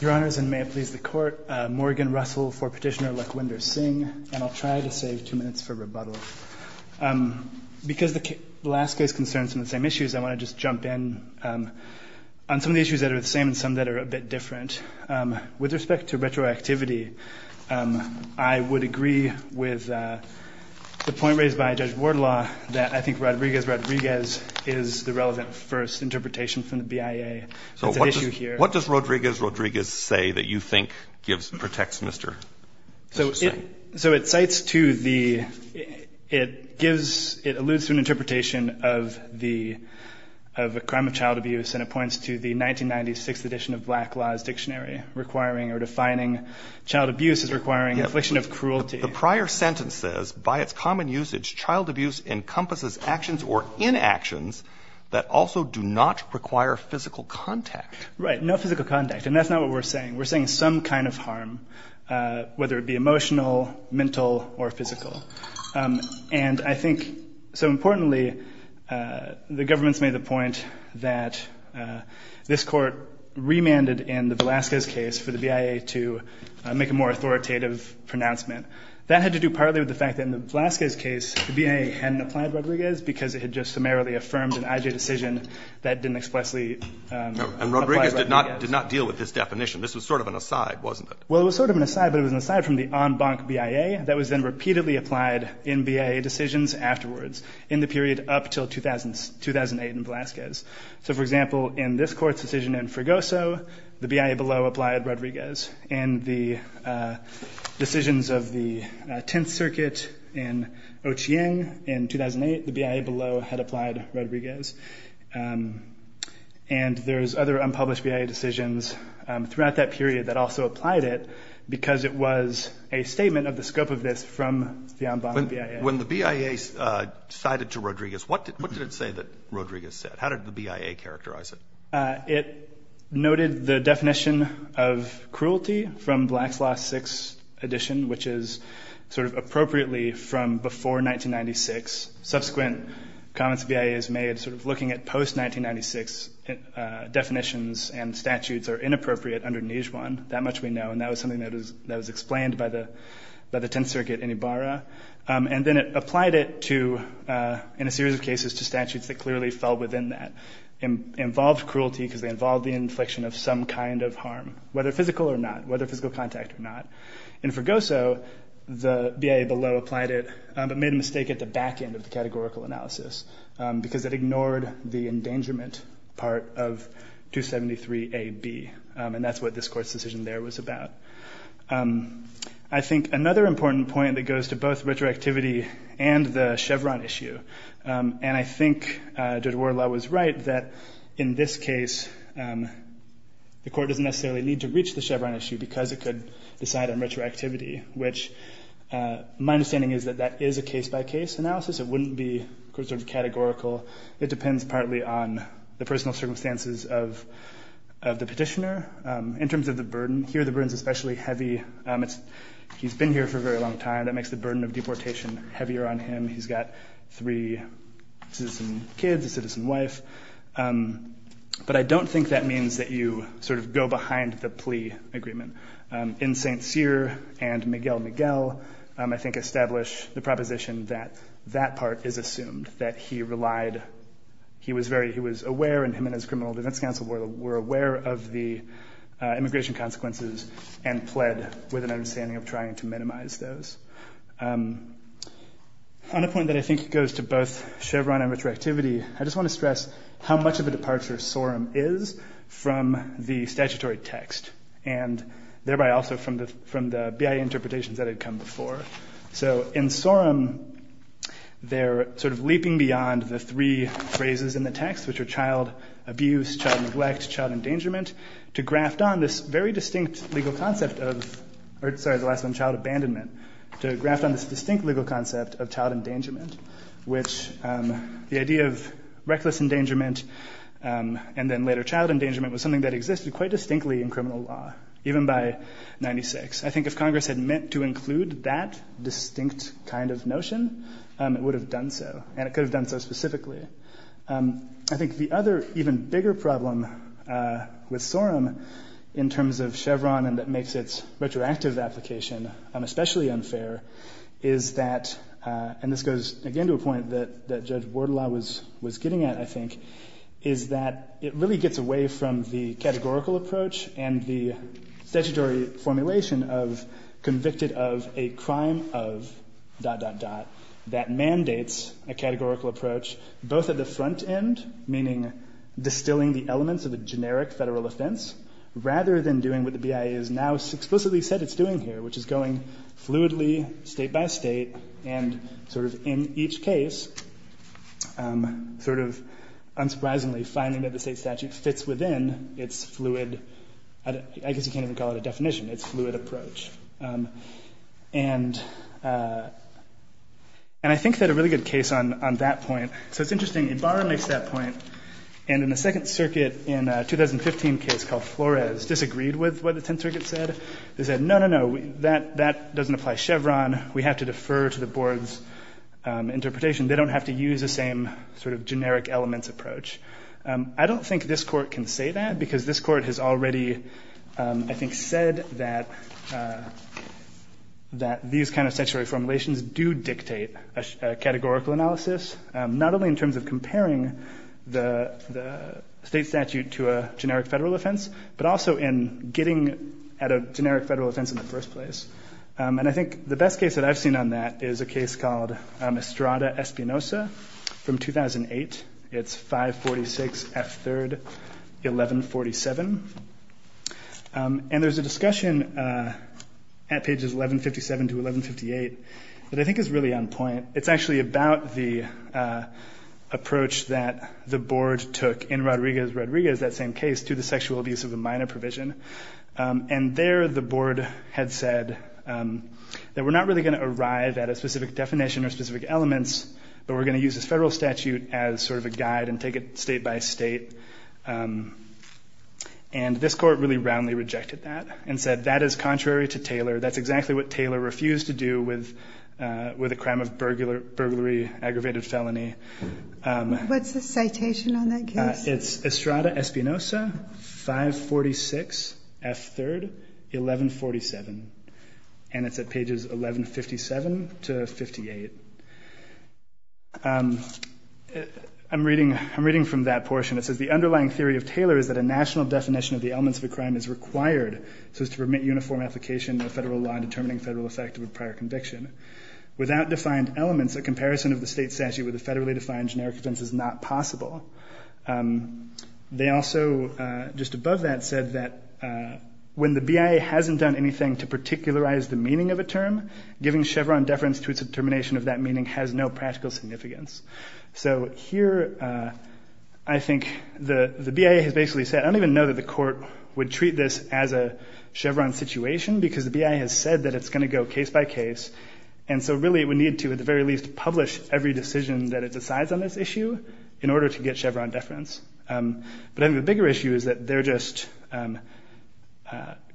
Your Honors, and may it please the Court, Morgan Russell for Petitioner Lakhwinder Singh, and I'll try to save two minutes for rebuttal. Because the last case concerns some of the same issues, I want to just jump in on some of the issues that are the same and some that are a bit different. With respect to retroactivity, I would agree with the point raised by Judge Burr's interpretation from the BIA. It's an issue here. What does Rodriguez-Rodriguez say that you think gives, protects Mr. Singh? So it cites to the, it gives, it alludes to an interpretation of the, of a crime of child abuse and it points to the 1996 edition of Black Laws Dictionary requiring or defining child abuse as requiring an affliction of cruelty. The prior sentence says, by its common usage, child abuse encompasses actions or inactions that also do not require physical contact. Right. No physical contact. And that's not what we're saying. We're saying some kind of harm, whether it be emotional, mental, or physical. And I think, so importantly, the government's made the point that this Court remanded in the Velazquez case for the BIA to make a more authoritative pronouncement. That had to do partly with the fact that in the Velazquez case, the BIA hadn't applied Rodriguez because it had just summarily affirmed an IJ decision that didn't explicitly apply Rodriguez. And Rodriguez did not deal with this definition. This was sort of an aside, wasn't it? Well, it was sort of an aside, but it was an aside from the en banc BIA that was then repeatedly applied in BIA decisions afterwards in the period up until 2008 in Velazquez. So, for example, in this Court's decision in Fregoso, the BIA below applied Rodriguez. And the decisions of the Tenth Circuit in Ochieng in 2008, the BIA below had applied Rodriguez. And there's other unpublished BIA decisions throughout that period that also applied it because it was a statement of the scope of this from the en banc BIA. When the BIA cited to Rodriguez, what did it say that Rodriguez said? How did the BIA characterize it? It noted the definition of cruelty from Black's Law 6 edition, which is sort of appropriately from before 1996. Subsequent comments the BIA has made sort of looking at post-1996 definitions and statutes are inappropriate under Nijhuan. That much we know. And that was something that was explained by the Tenth Circuit in Ibarra. And then it applied it to, in a series of cases, to statutes that clearly fell within that. Involved cruelty because they involved the inflection of some kind of harm, whether physical or not, whether physical contact or not. In Fregoso, the BIA below applied it but made a mistake at the back end of the categorical analysis because it ignored the endangerment part of 273AB. And that's what this Court's decision there was about. I think another important point that goes to both retroactivity and the Chevron issue, and I think Judge Wardlaw was right that in this case the Court doesn't necessarily need to reach the Chevron issue because it could decide on retroactivity, which my understanding is that that is a case-by-case analysis. It wouldn't be categorical. It depends partly on the personal circumstances of the petitioner in terms of the burden. Here the burden is especially heavy. He's been here for a very long time. That makes the burden of deportation heavier on him. He's got three citizen kids, a citizen wife. But I don't think that means that you sort of go behind the plea agreement. In St. Cyr and Miguel Miguel, I think establish the proposition that that part is assumed, that he relied, he was aware, and him and his criminal defense counsel were aware of the immigration consequences and pled with an understanding of trying to minimize those. On a point that I think goes to both Chevron and retroactivity, I just want to stress how much of a departure Sorum is from the statutory text and thereby also from the BIA interpretations that had come before. So in Sorum, they're sort of leaping beyond the three phrases in the text, which are child abuse, child neglect, child endangerment, to graft on this very distinct legal concept of, sorry, the last one, child abandonment, to graft on this distinct legal concept of child endangerment, which the idea of reckless endangerment and then later child endangerment was something that existed quite distinctly in criminal law, even by 96. I think if Congress had meant to include that distinct kind of notion, it would have done so, and it could have done so specifically. I think the other even bigger problem with Sorum in terms of Chevron and that makes its retroactive application especially unfair is that, and this goes again to a point that Judge Wardlaw was getting at, I think, is that it really gets away from the crime of...that mandates a categorical approach both at the front end, meaning distilling the elements of a generic Federal offense, rather than doing what the BIA has now explicitly said it's doing here, which is going fluidly State by State and sort of in each case sort of unsurprisingly finding that the State statute fits within its fluid, I guess you could say. And I think that a really good case on that point, so it's interesting, Ibarra makes that point, and in the Second Circuit in a 2015 case called Flores disagreed with what the Tenth Circuit said. They said, no, no, no, that doesn't apply to Chevron. We have to defer to the Board's interpretation. They don't have to use the same sort of generic elements approach. I don't think this Court can say that because this Court has already, I think, said that these kind of statutory formulations do dictate a categorical analysis, not only in terms of comparing the State statute to a generic Federal offense, but also in getting at a generic Federal offense in the first place. And I think the best case that I've seen on that is a case called Estrada-Espinosa from 2008. It's 546F3-1147. And there's a discussion at pages 1157 to 1158 that I think is really on point. It's actually about the approach that the Board took in Rodriguez-Rodriguez, that same case, to the sexual abuse of the minor provision. And there the Board had said that we're not really going to arrive at a specific definition or specific elements, but we're going to use this Federal statute as sort of a guide and take it State by State. And this Court really roundly rejected that and said that is contrary to Taylor. That's exactly what Taylor refused to do with a crime of burglary, aggravated What's the citation on that case? It's Estrada-Espinosa, 546F3-1147. And it's at pages 1157 to 1158. I'm reading from that portion. It says the underlying theory of Taylor is that a national definition of the elements of a crime is required so as to permit uniform application of Federal law in determining Federal effect of a prior conviction. Without defined elements, a comparison of the State statute with a Federally defined generic offense is not possible. They also, just above that, said that when the BIA hasn't done anything to particularize the meaning of a term, giving Chevron deference to its determination of that meaning has no practical significance. So here I think the BIA has basically said, I don't even know that the Court would treat this as a Chevron situation because the BIA has said that it's going to go case by case, and so really it would need to at the very least publish every decision that it decides on this issue in order to get Chevron deference. But I think the bigger issue is that they're just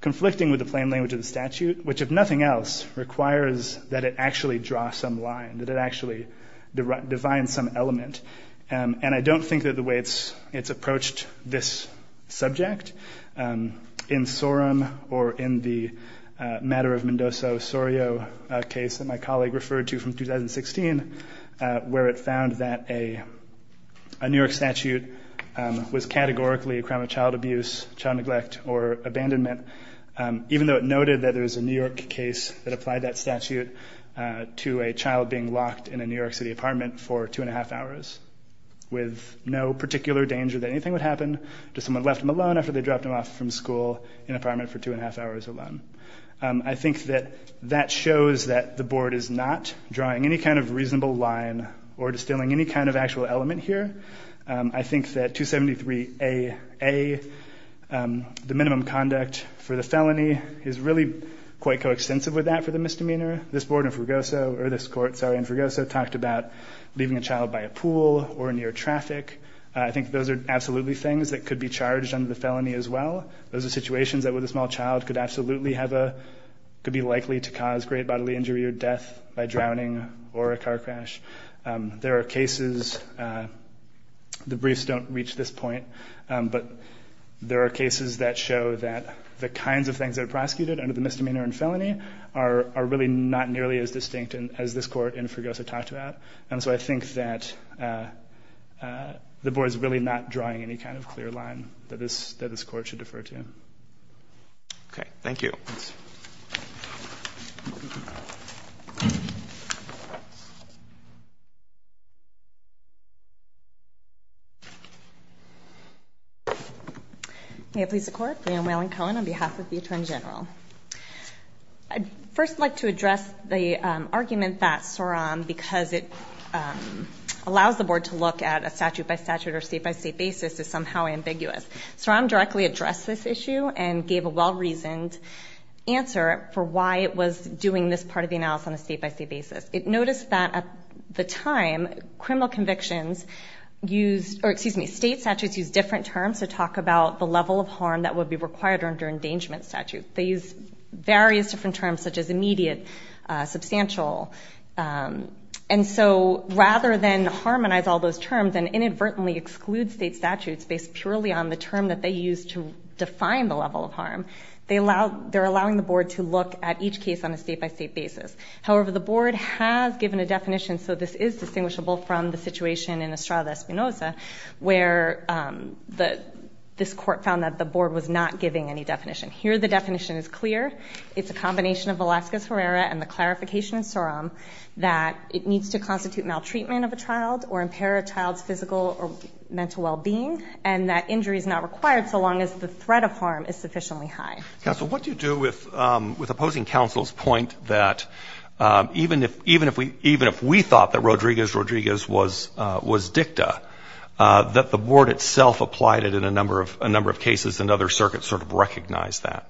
conflicting with the plain language of the statute, which if nothing else requires that it actually draw some line, that it actually define some element. And I don't think that the way it's approached this subject in Sorum or in the matter of Mendoza-Sorio case that my colleague referred to from 2016, where it found that a New York statute was categorically a crime of child abuse, child neglect, or abandonment, even though it noted that there was a New York case that applied that statute to a child being locked in a New York City apartment for two and a half hours with no particular danger that anything would happen to someone who left them alone after they dropped them off from school in an apartment for two and a half hours alone. I think that that shows that the Board is not drawing any kind of reasonable line or distilling any kind of actual element here. I think that 273AA, the minimum conduct for the felony, is really quite coextensive with that for the misdemeanor. This Court in Fragoso talked about leaving a child by a pool or near traffic. I think those are absolutely things that could be charged under the felony as well. Those are situations that with a small child could absolutely be likely to cause great bodily injury or death by drowning or a car crash. There are cases, the briefs don't reach this point, but there are cases that show that the kinds of things that are prosecuted under the misdemeanor and felony are really not nearly as distinct as this Court in Fragoso talked about. And so I think that the Board is really not drawing any kind of clear line that this Court should defer to. May it please the Court, Leigh Ann Whalen-Cohen on behalf of the Attorney General. I'd first like to address the argument that SOROM, because it allows the Board to look at a statute-by-statute or state-by-state basis, is somehow ambiguous. SOROM directly addressed this issue and gave a well-reasoned answer for why it was doing this part of the case. Notice that at the time, criminal convictions used, or excuse me, state statutes used different terms to talk about the level of harm that would be required under endangerment statute. They used various different terms such as immediate, substantial. And so rather than harmonize all those terms and inadvertently exclude state statutes based purely on the term that they used to define the level of harm, they're allowing the Board to look at each case on a state-by-state basis. However, the Board has given a definition, so this is distinguishable from the situation in Estrada Espinoza, where this Court found that the Board was not giving any definition. Here the definition is clear. It's a combination of Velazquez-Herrera and the clarification in SOROM that it needs to constitute maltreatment of a child or impair a child's physical or mental well-being, and that injury is not required so long as the threat of harm is sufficiently high. Counsel, what do you do with opposing counsel's point that even if we thought that Rodriguez-Rodriguez was dicta, that the Board itself applied it in a number of cases and other circuits sort of recognized that?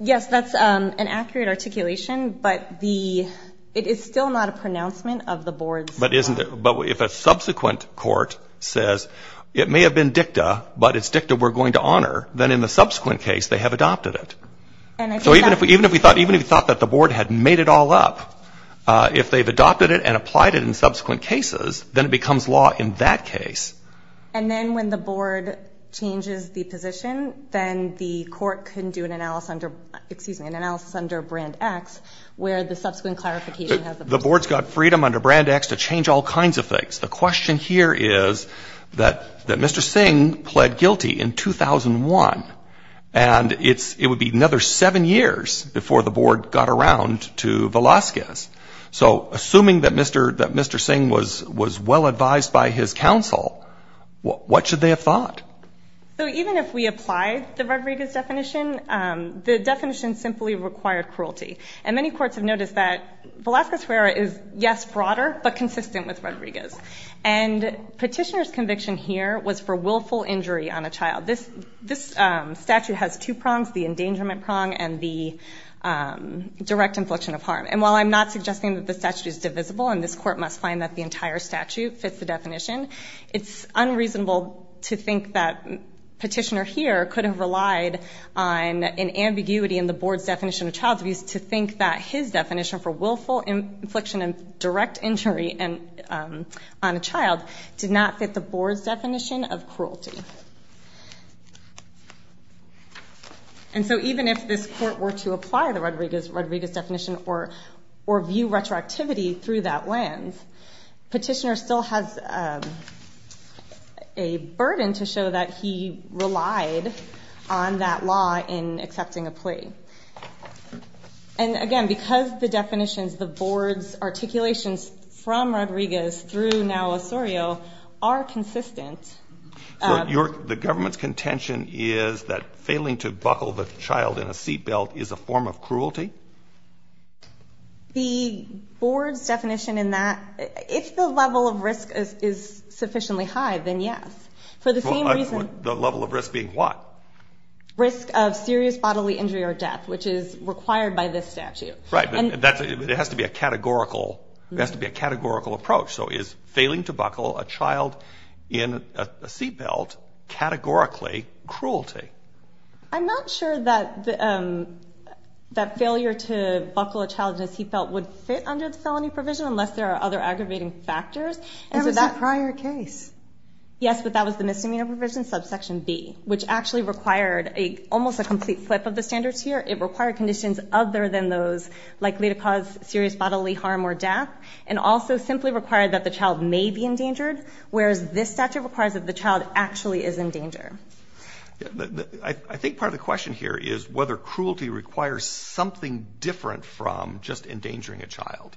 Yes, that's an accurate articulation, but it is still not a pronouncement of the Board's. But if a subsequent court says it may have been dicta, but it's dicta we're going to honor, then in the subsequent case they have adopted it. So even if we thought that the Board had made it all up, if they've adopted it and applied it in subsequent cases, then it becomes law in that case. And then when the Board changes the position, then the Court can do an analysis under, excuse me, an analysis under Brand X, where the subsequent clarification has a... The Board's got freedom under Brand X to change all kinds of things. The question here is that Mr. Singh pled guilty in 2001, and it would be another seven years before the Board got around to Velazquez. So assuming that Mr. Singh was well advised by his counsel, what should they have thought? So even if we applied the Rodriguez definition, the definition simply required cruelty. And many courts have noticed that Velazquez is, yes, broader, but consistent with Rodriguez. And Petitioner's conviction here was for willful injury on a child. This statute has two prongs, the endangerment prong and the direct infliction of harm. And while I'm not suggesting that the statute is divisible and this Court must find that the entire statute fits the definition, it's unreasonable to think that Petitioner here could have relied on an ambiguity in the Board's definition of child abuse to think that his conviction of direct injury on a child did not fit the Board's definition of cruelty. And so even if this Court were to apply the Rodriguez definition or view retroactivity through that lens, Petitioner still has a burden to show that he relied on that law in accepting a plea. And again, because the definitions, the Board's articulations from Rodriguez through now Osorio are consistent. So the government's contention is that failing to buckle the child in a seat belt is a form of cruelty? The Board's definition in that, if the level of risk is sufficiently high, then yes. For the same reason. The level of risk being what? Risk of serious bodily injury or death, which is required by this statute. Right. But it has to be a categorical approach. So is failing to buckle a child in a seat belt categorically cruelty? I'm not sure that failure to buckle a child in a seat belt would fit under the felony provision unless there are other aggravating factors. There was a prior case. Yes, but that was the misdemeanor provision, subsection B, which actually required almost a complete flip of the standards here. It required conditions other than those likely to cause serious bodily harm or death, and also simply required that the child may be endangered, whereas this statute requires that the child actually is endangered. I think part of the question here is whether cruelty requires something different from just endangering a child.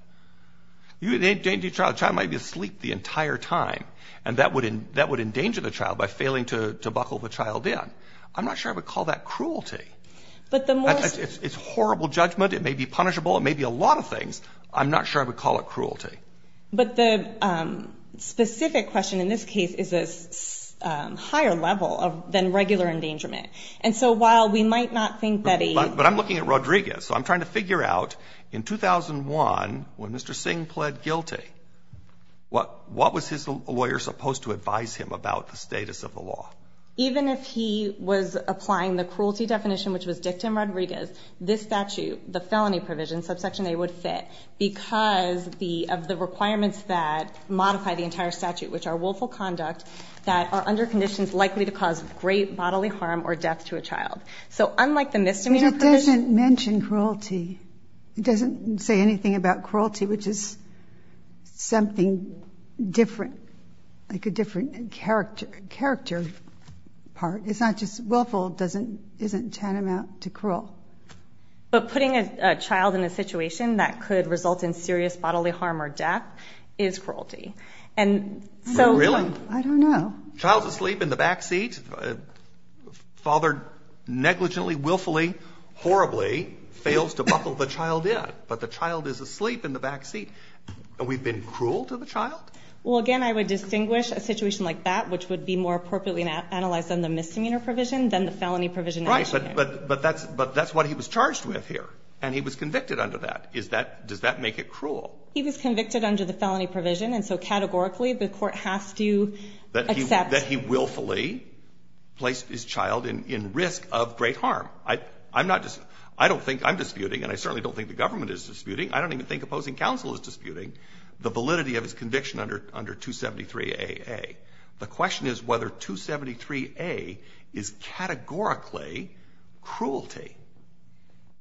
You endanger a child, the child might be asleep the entire time, and that would endanger the child by failing to buckle the child in. I'm not sure I would call that cruelty. It's horrible judgment. It may be punishable. It may be a lot of things. I'm not sure I would call it cruelty. But the specific question in this case is a higher level than regular endangerment. And so while we might not think that a But I'm looking at Rodriguez. So I'm trying to figure out, in 2001, when Mr. Singh pled guilty, what was his lawyer supposed to advise him about the status of the law? Even if he was applying the cruelty definition, which was dictum Rodriguez, this statute, the felony provision, subsection A, would fit because of the requirements that modify the entire statute, which are willful conduct that are under conditions likely to cause great bodily harm or death to a child. So unlike the misdemeanor provision... But it doesn't mention cruelty. It doesn't say anything about cruelty, which is something different, like a different character part. It's not just willful. It isn't tantamount to cruel. But putting a child in a situation that could result in serious bodily harm or death is cruelty. Really? I don't know. Child's asleep in the backseat. Father negligently, willfully, horribly fails to buckle the child in. But the child is asleep in the backseat. And we've been cruel to the child? Well, again, I would distinguish a situation like that, which would be more appropriately analyzed than the misdemeanor provision, than the felony provision. Right. But that's what he was charged with here. And he was convicted under that. Does that make it cruel? He was convicted under the felony provision. And so categorically, the court has to accept... That he willfully placed his child in risk of great harm. I don't think I'm disputing, and I certainly don't think the government is disputing, I don't even think opposing counsel is disputing, the validity of his conviction under 273AA. The question is whether 273A is categorically cruelty.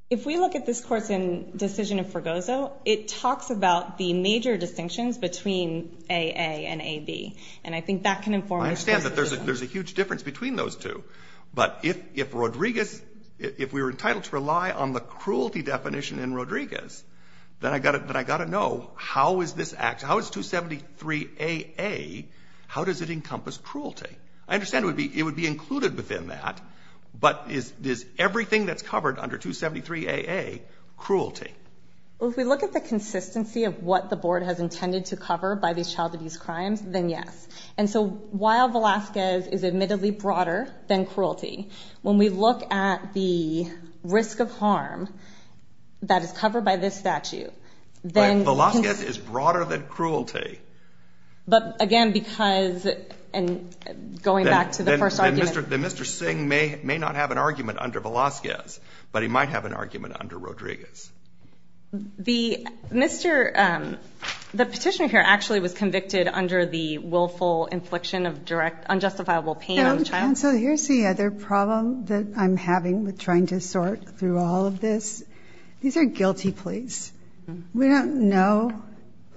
If we look at this course in Decision of Fragoso, it talks about the major distinctions between AA and AB. And I think that can inform... I understand that there's a huge difference between those two. But if Rodriguez, if we were entitled to rely on the cruelty definition in Rodriguez, then I've got to know how is this act, how is 273AA, how does it encompass cruelty? I understand it would be included within that. But is everything that's covered under 273AA cruelty? Well, if we look at the consistency of what the board has intended to cover by these child abuse crimes, then yes. And so while Velazquez is admittedly broader than cruelty, when we look at the risk of harm that is covered by this statute, then... But Velazquez is broader than cruelty. But, again, because going back to the first argument... Mr. Singh may not have an argument under Velazquez, but he might have an argument under Rodriguez. The petitioner here actually was convicted under the willful infliction of direct, unjustifiable pain on the child? So here's the other problem that I'm having with trying to sort through all of this. These are guilty pleas. We don't know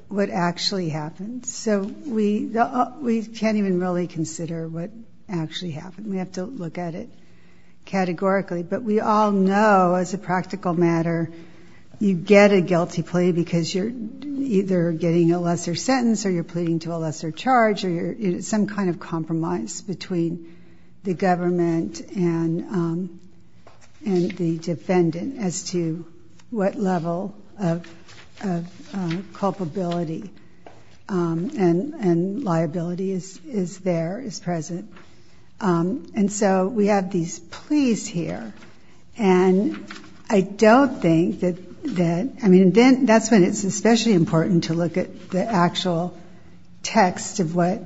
what actually happened. So we can't even really consider what actually happened. We have to look at it categorically. But we all know, as a practical matter, you get a guilty plea because you're either getting a lesser sentence or you're pleading to a lesser charge or it's some kind of compromise between the government and the defendant as to what level of culpability and liability is there, is present. And so we have these pleas here. And I don't think that... And that's when it's especially important to look at the actual text of what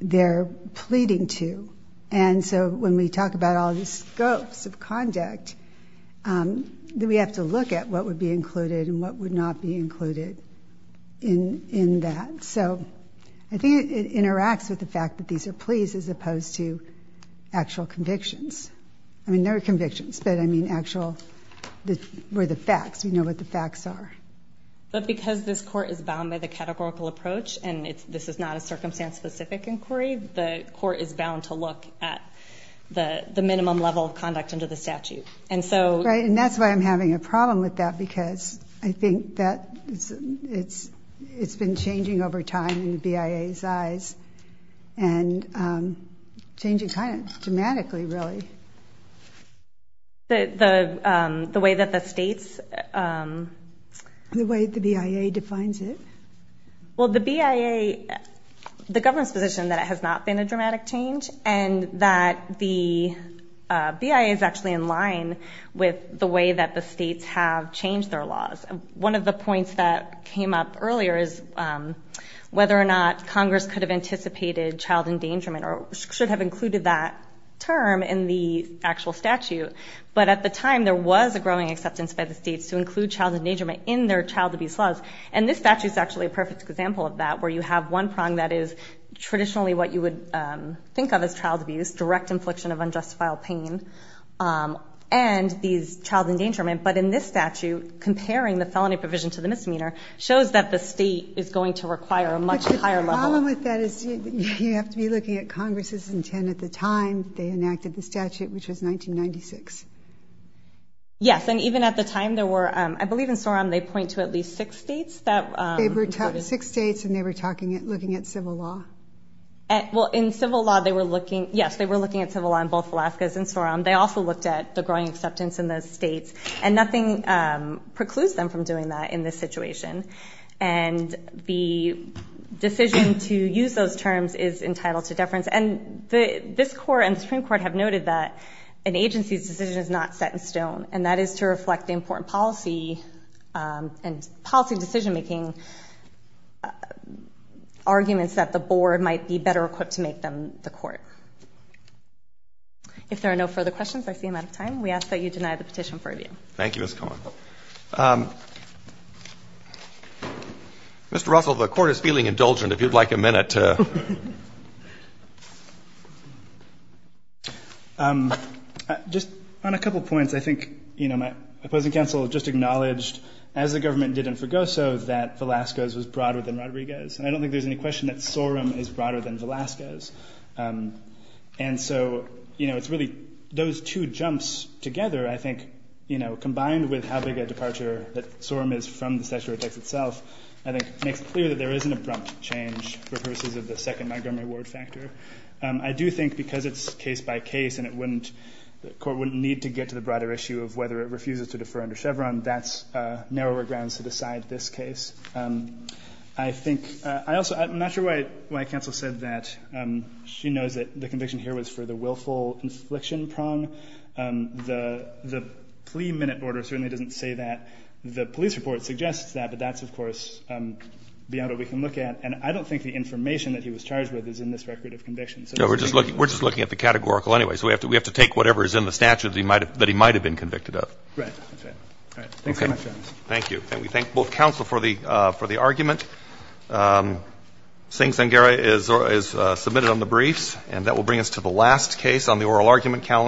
they're pleading to. And so when we talk about all these scopes of conduct, we have to look at what would be included and what would not be included in that. So I think it interacts with the fact that these are pleas as opposed to actual convictions. I mean, they're convictions, but I mean actual... But because this court is bound by the categorical approach and this is not a circumstance-specific inquiry, the court is bound to look at the minimum level of conduct under the statute. And so... Right, and that's why I'm having a problem with that because I think that it's been changing over time in the BIA's eyes and changing kind of dramatically, really. The way that the states... The way the BIA defines it. Well, the BIA... The government's position that it has not been a dramatic change and that the BIA is actually in line with the way that the states have changed their laws. One of the points that came up earlier is whether or not Congress could have anticipated child endangerment or should have included that term in the actual statute. But at the time, there was a growing acceptance by the states to include child endangerment in their child abuse laws. And this statute is actually a perfect example of that, where you have one prong that is traditionally what you would think of as child abuse, direct infliction of unjustifiable pain, and these child endangerment. But in this statute, comparing the felony provision to the misdemeanor shows that the state is going to require a much higher level... You have to be looking at Congress's intent at the time they enacted the statute, which was 1996. Yes, and even at the time, there were... I believe in SOROM they point to at least six states that... Six states, and they were looking at civil law. Well, in civil law, they were looking... Yes, they were looking at civil law in both Alaska and SOROM. They also looked at the growing acceptance in those states. And nothing precludes them from doing that in this situation. And the decision to use those terms is entitled to deference. And this Court and the Supreme Court have noted that an agency's decision is not set in stone, and that is to reflect the important policy and policy decision-making arguments that the board might be better equipped to make than the court. If there are no further questions, I see I'm out of time. We ask that you deny the petition for review. Thank you, Ms. Cohen. Mr. Russell, the Court is feeling indulgent, if you'd like a minute. Just on a couple of points, I think, you know, my opposing counsel just acknowledged, as the government did in Fregoso, that Velasco's was broader than Rodriguez's. And I don't think there's any question that SOROM is broader than Velasco's. And so, you know, it's really those two jumps together, I think, you know, combined with how big a departure that SOROM is from the statutory text itself, I think makes clear that there is an abrupt change for purposes of the second Montgomery Ward factor. I do think because it's case-by-case and the court wouldn't need to get to the broader issue of whether it refuses to defer under Chevron, that's narrower grounds to decide this case. I think I also am not sure why counsel said that. She knows that the conviction here was for the willful infliction prong. The plea minute order certainly doesn't say that. The police report suggests that, but that's, of course, beyond what we can look at. And I don't think the information that he was charged with is in this record of conviction. No, we're just looking at the categorical anyway. So we have to take whatever is in the statute that he might have been convicted of. Right. All right. Thanks very much, Your Honor. Thank you. And we thank both counsel for the argument. Sing Sangera is submitted on the briefs. And that will bring us to the last case on the oral argument calendar.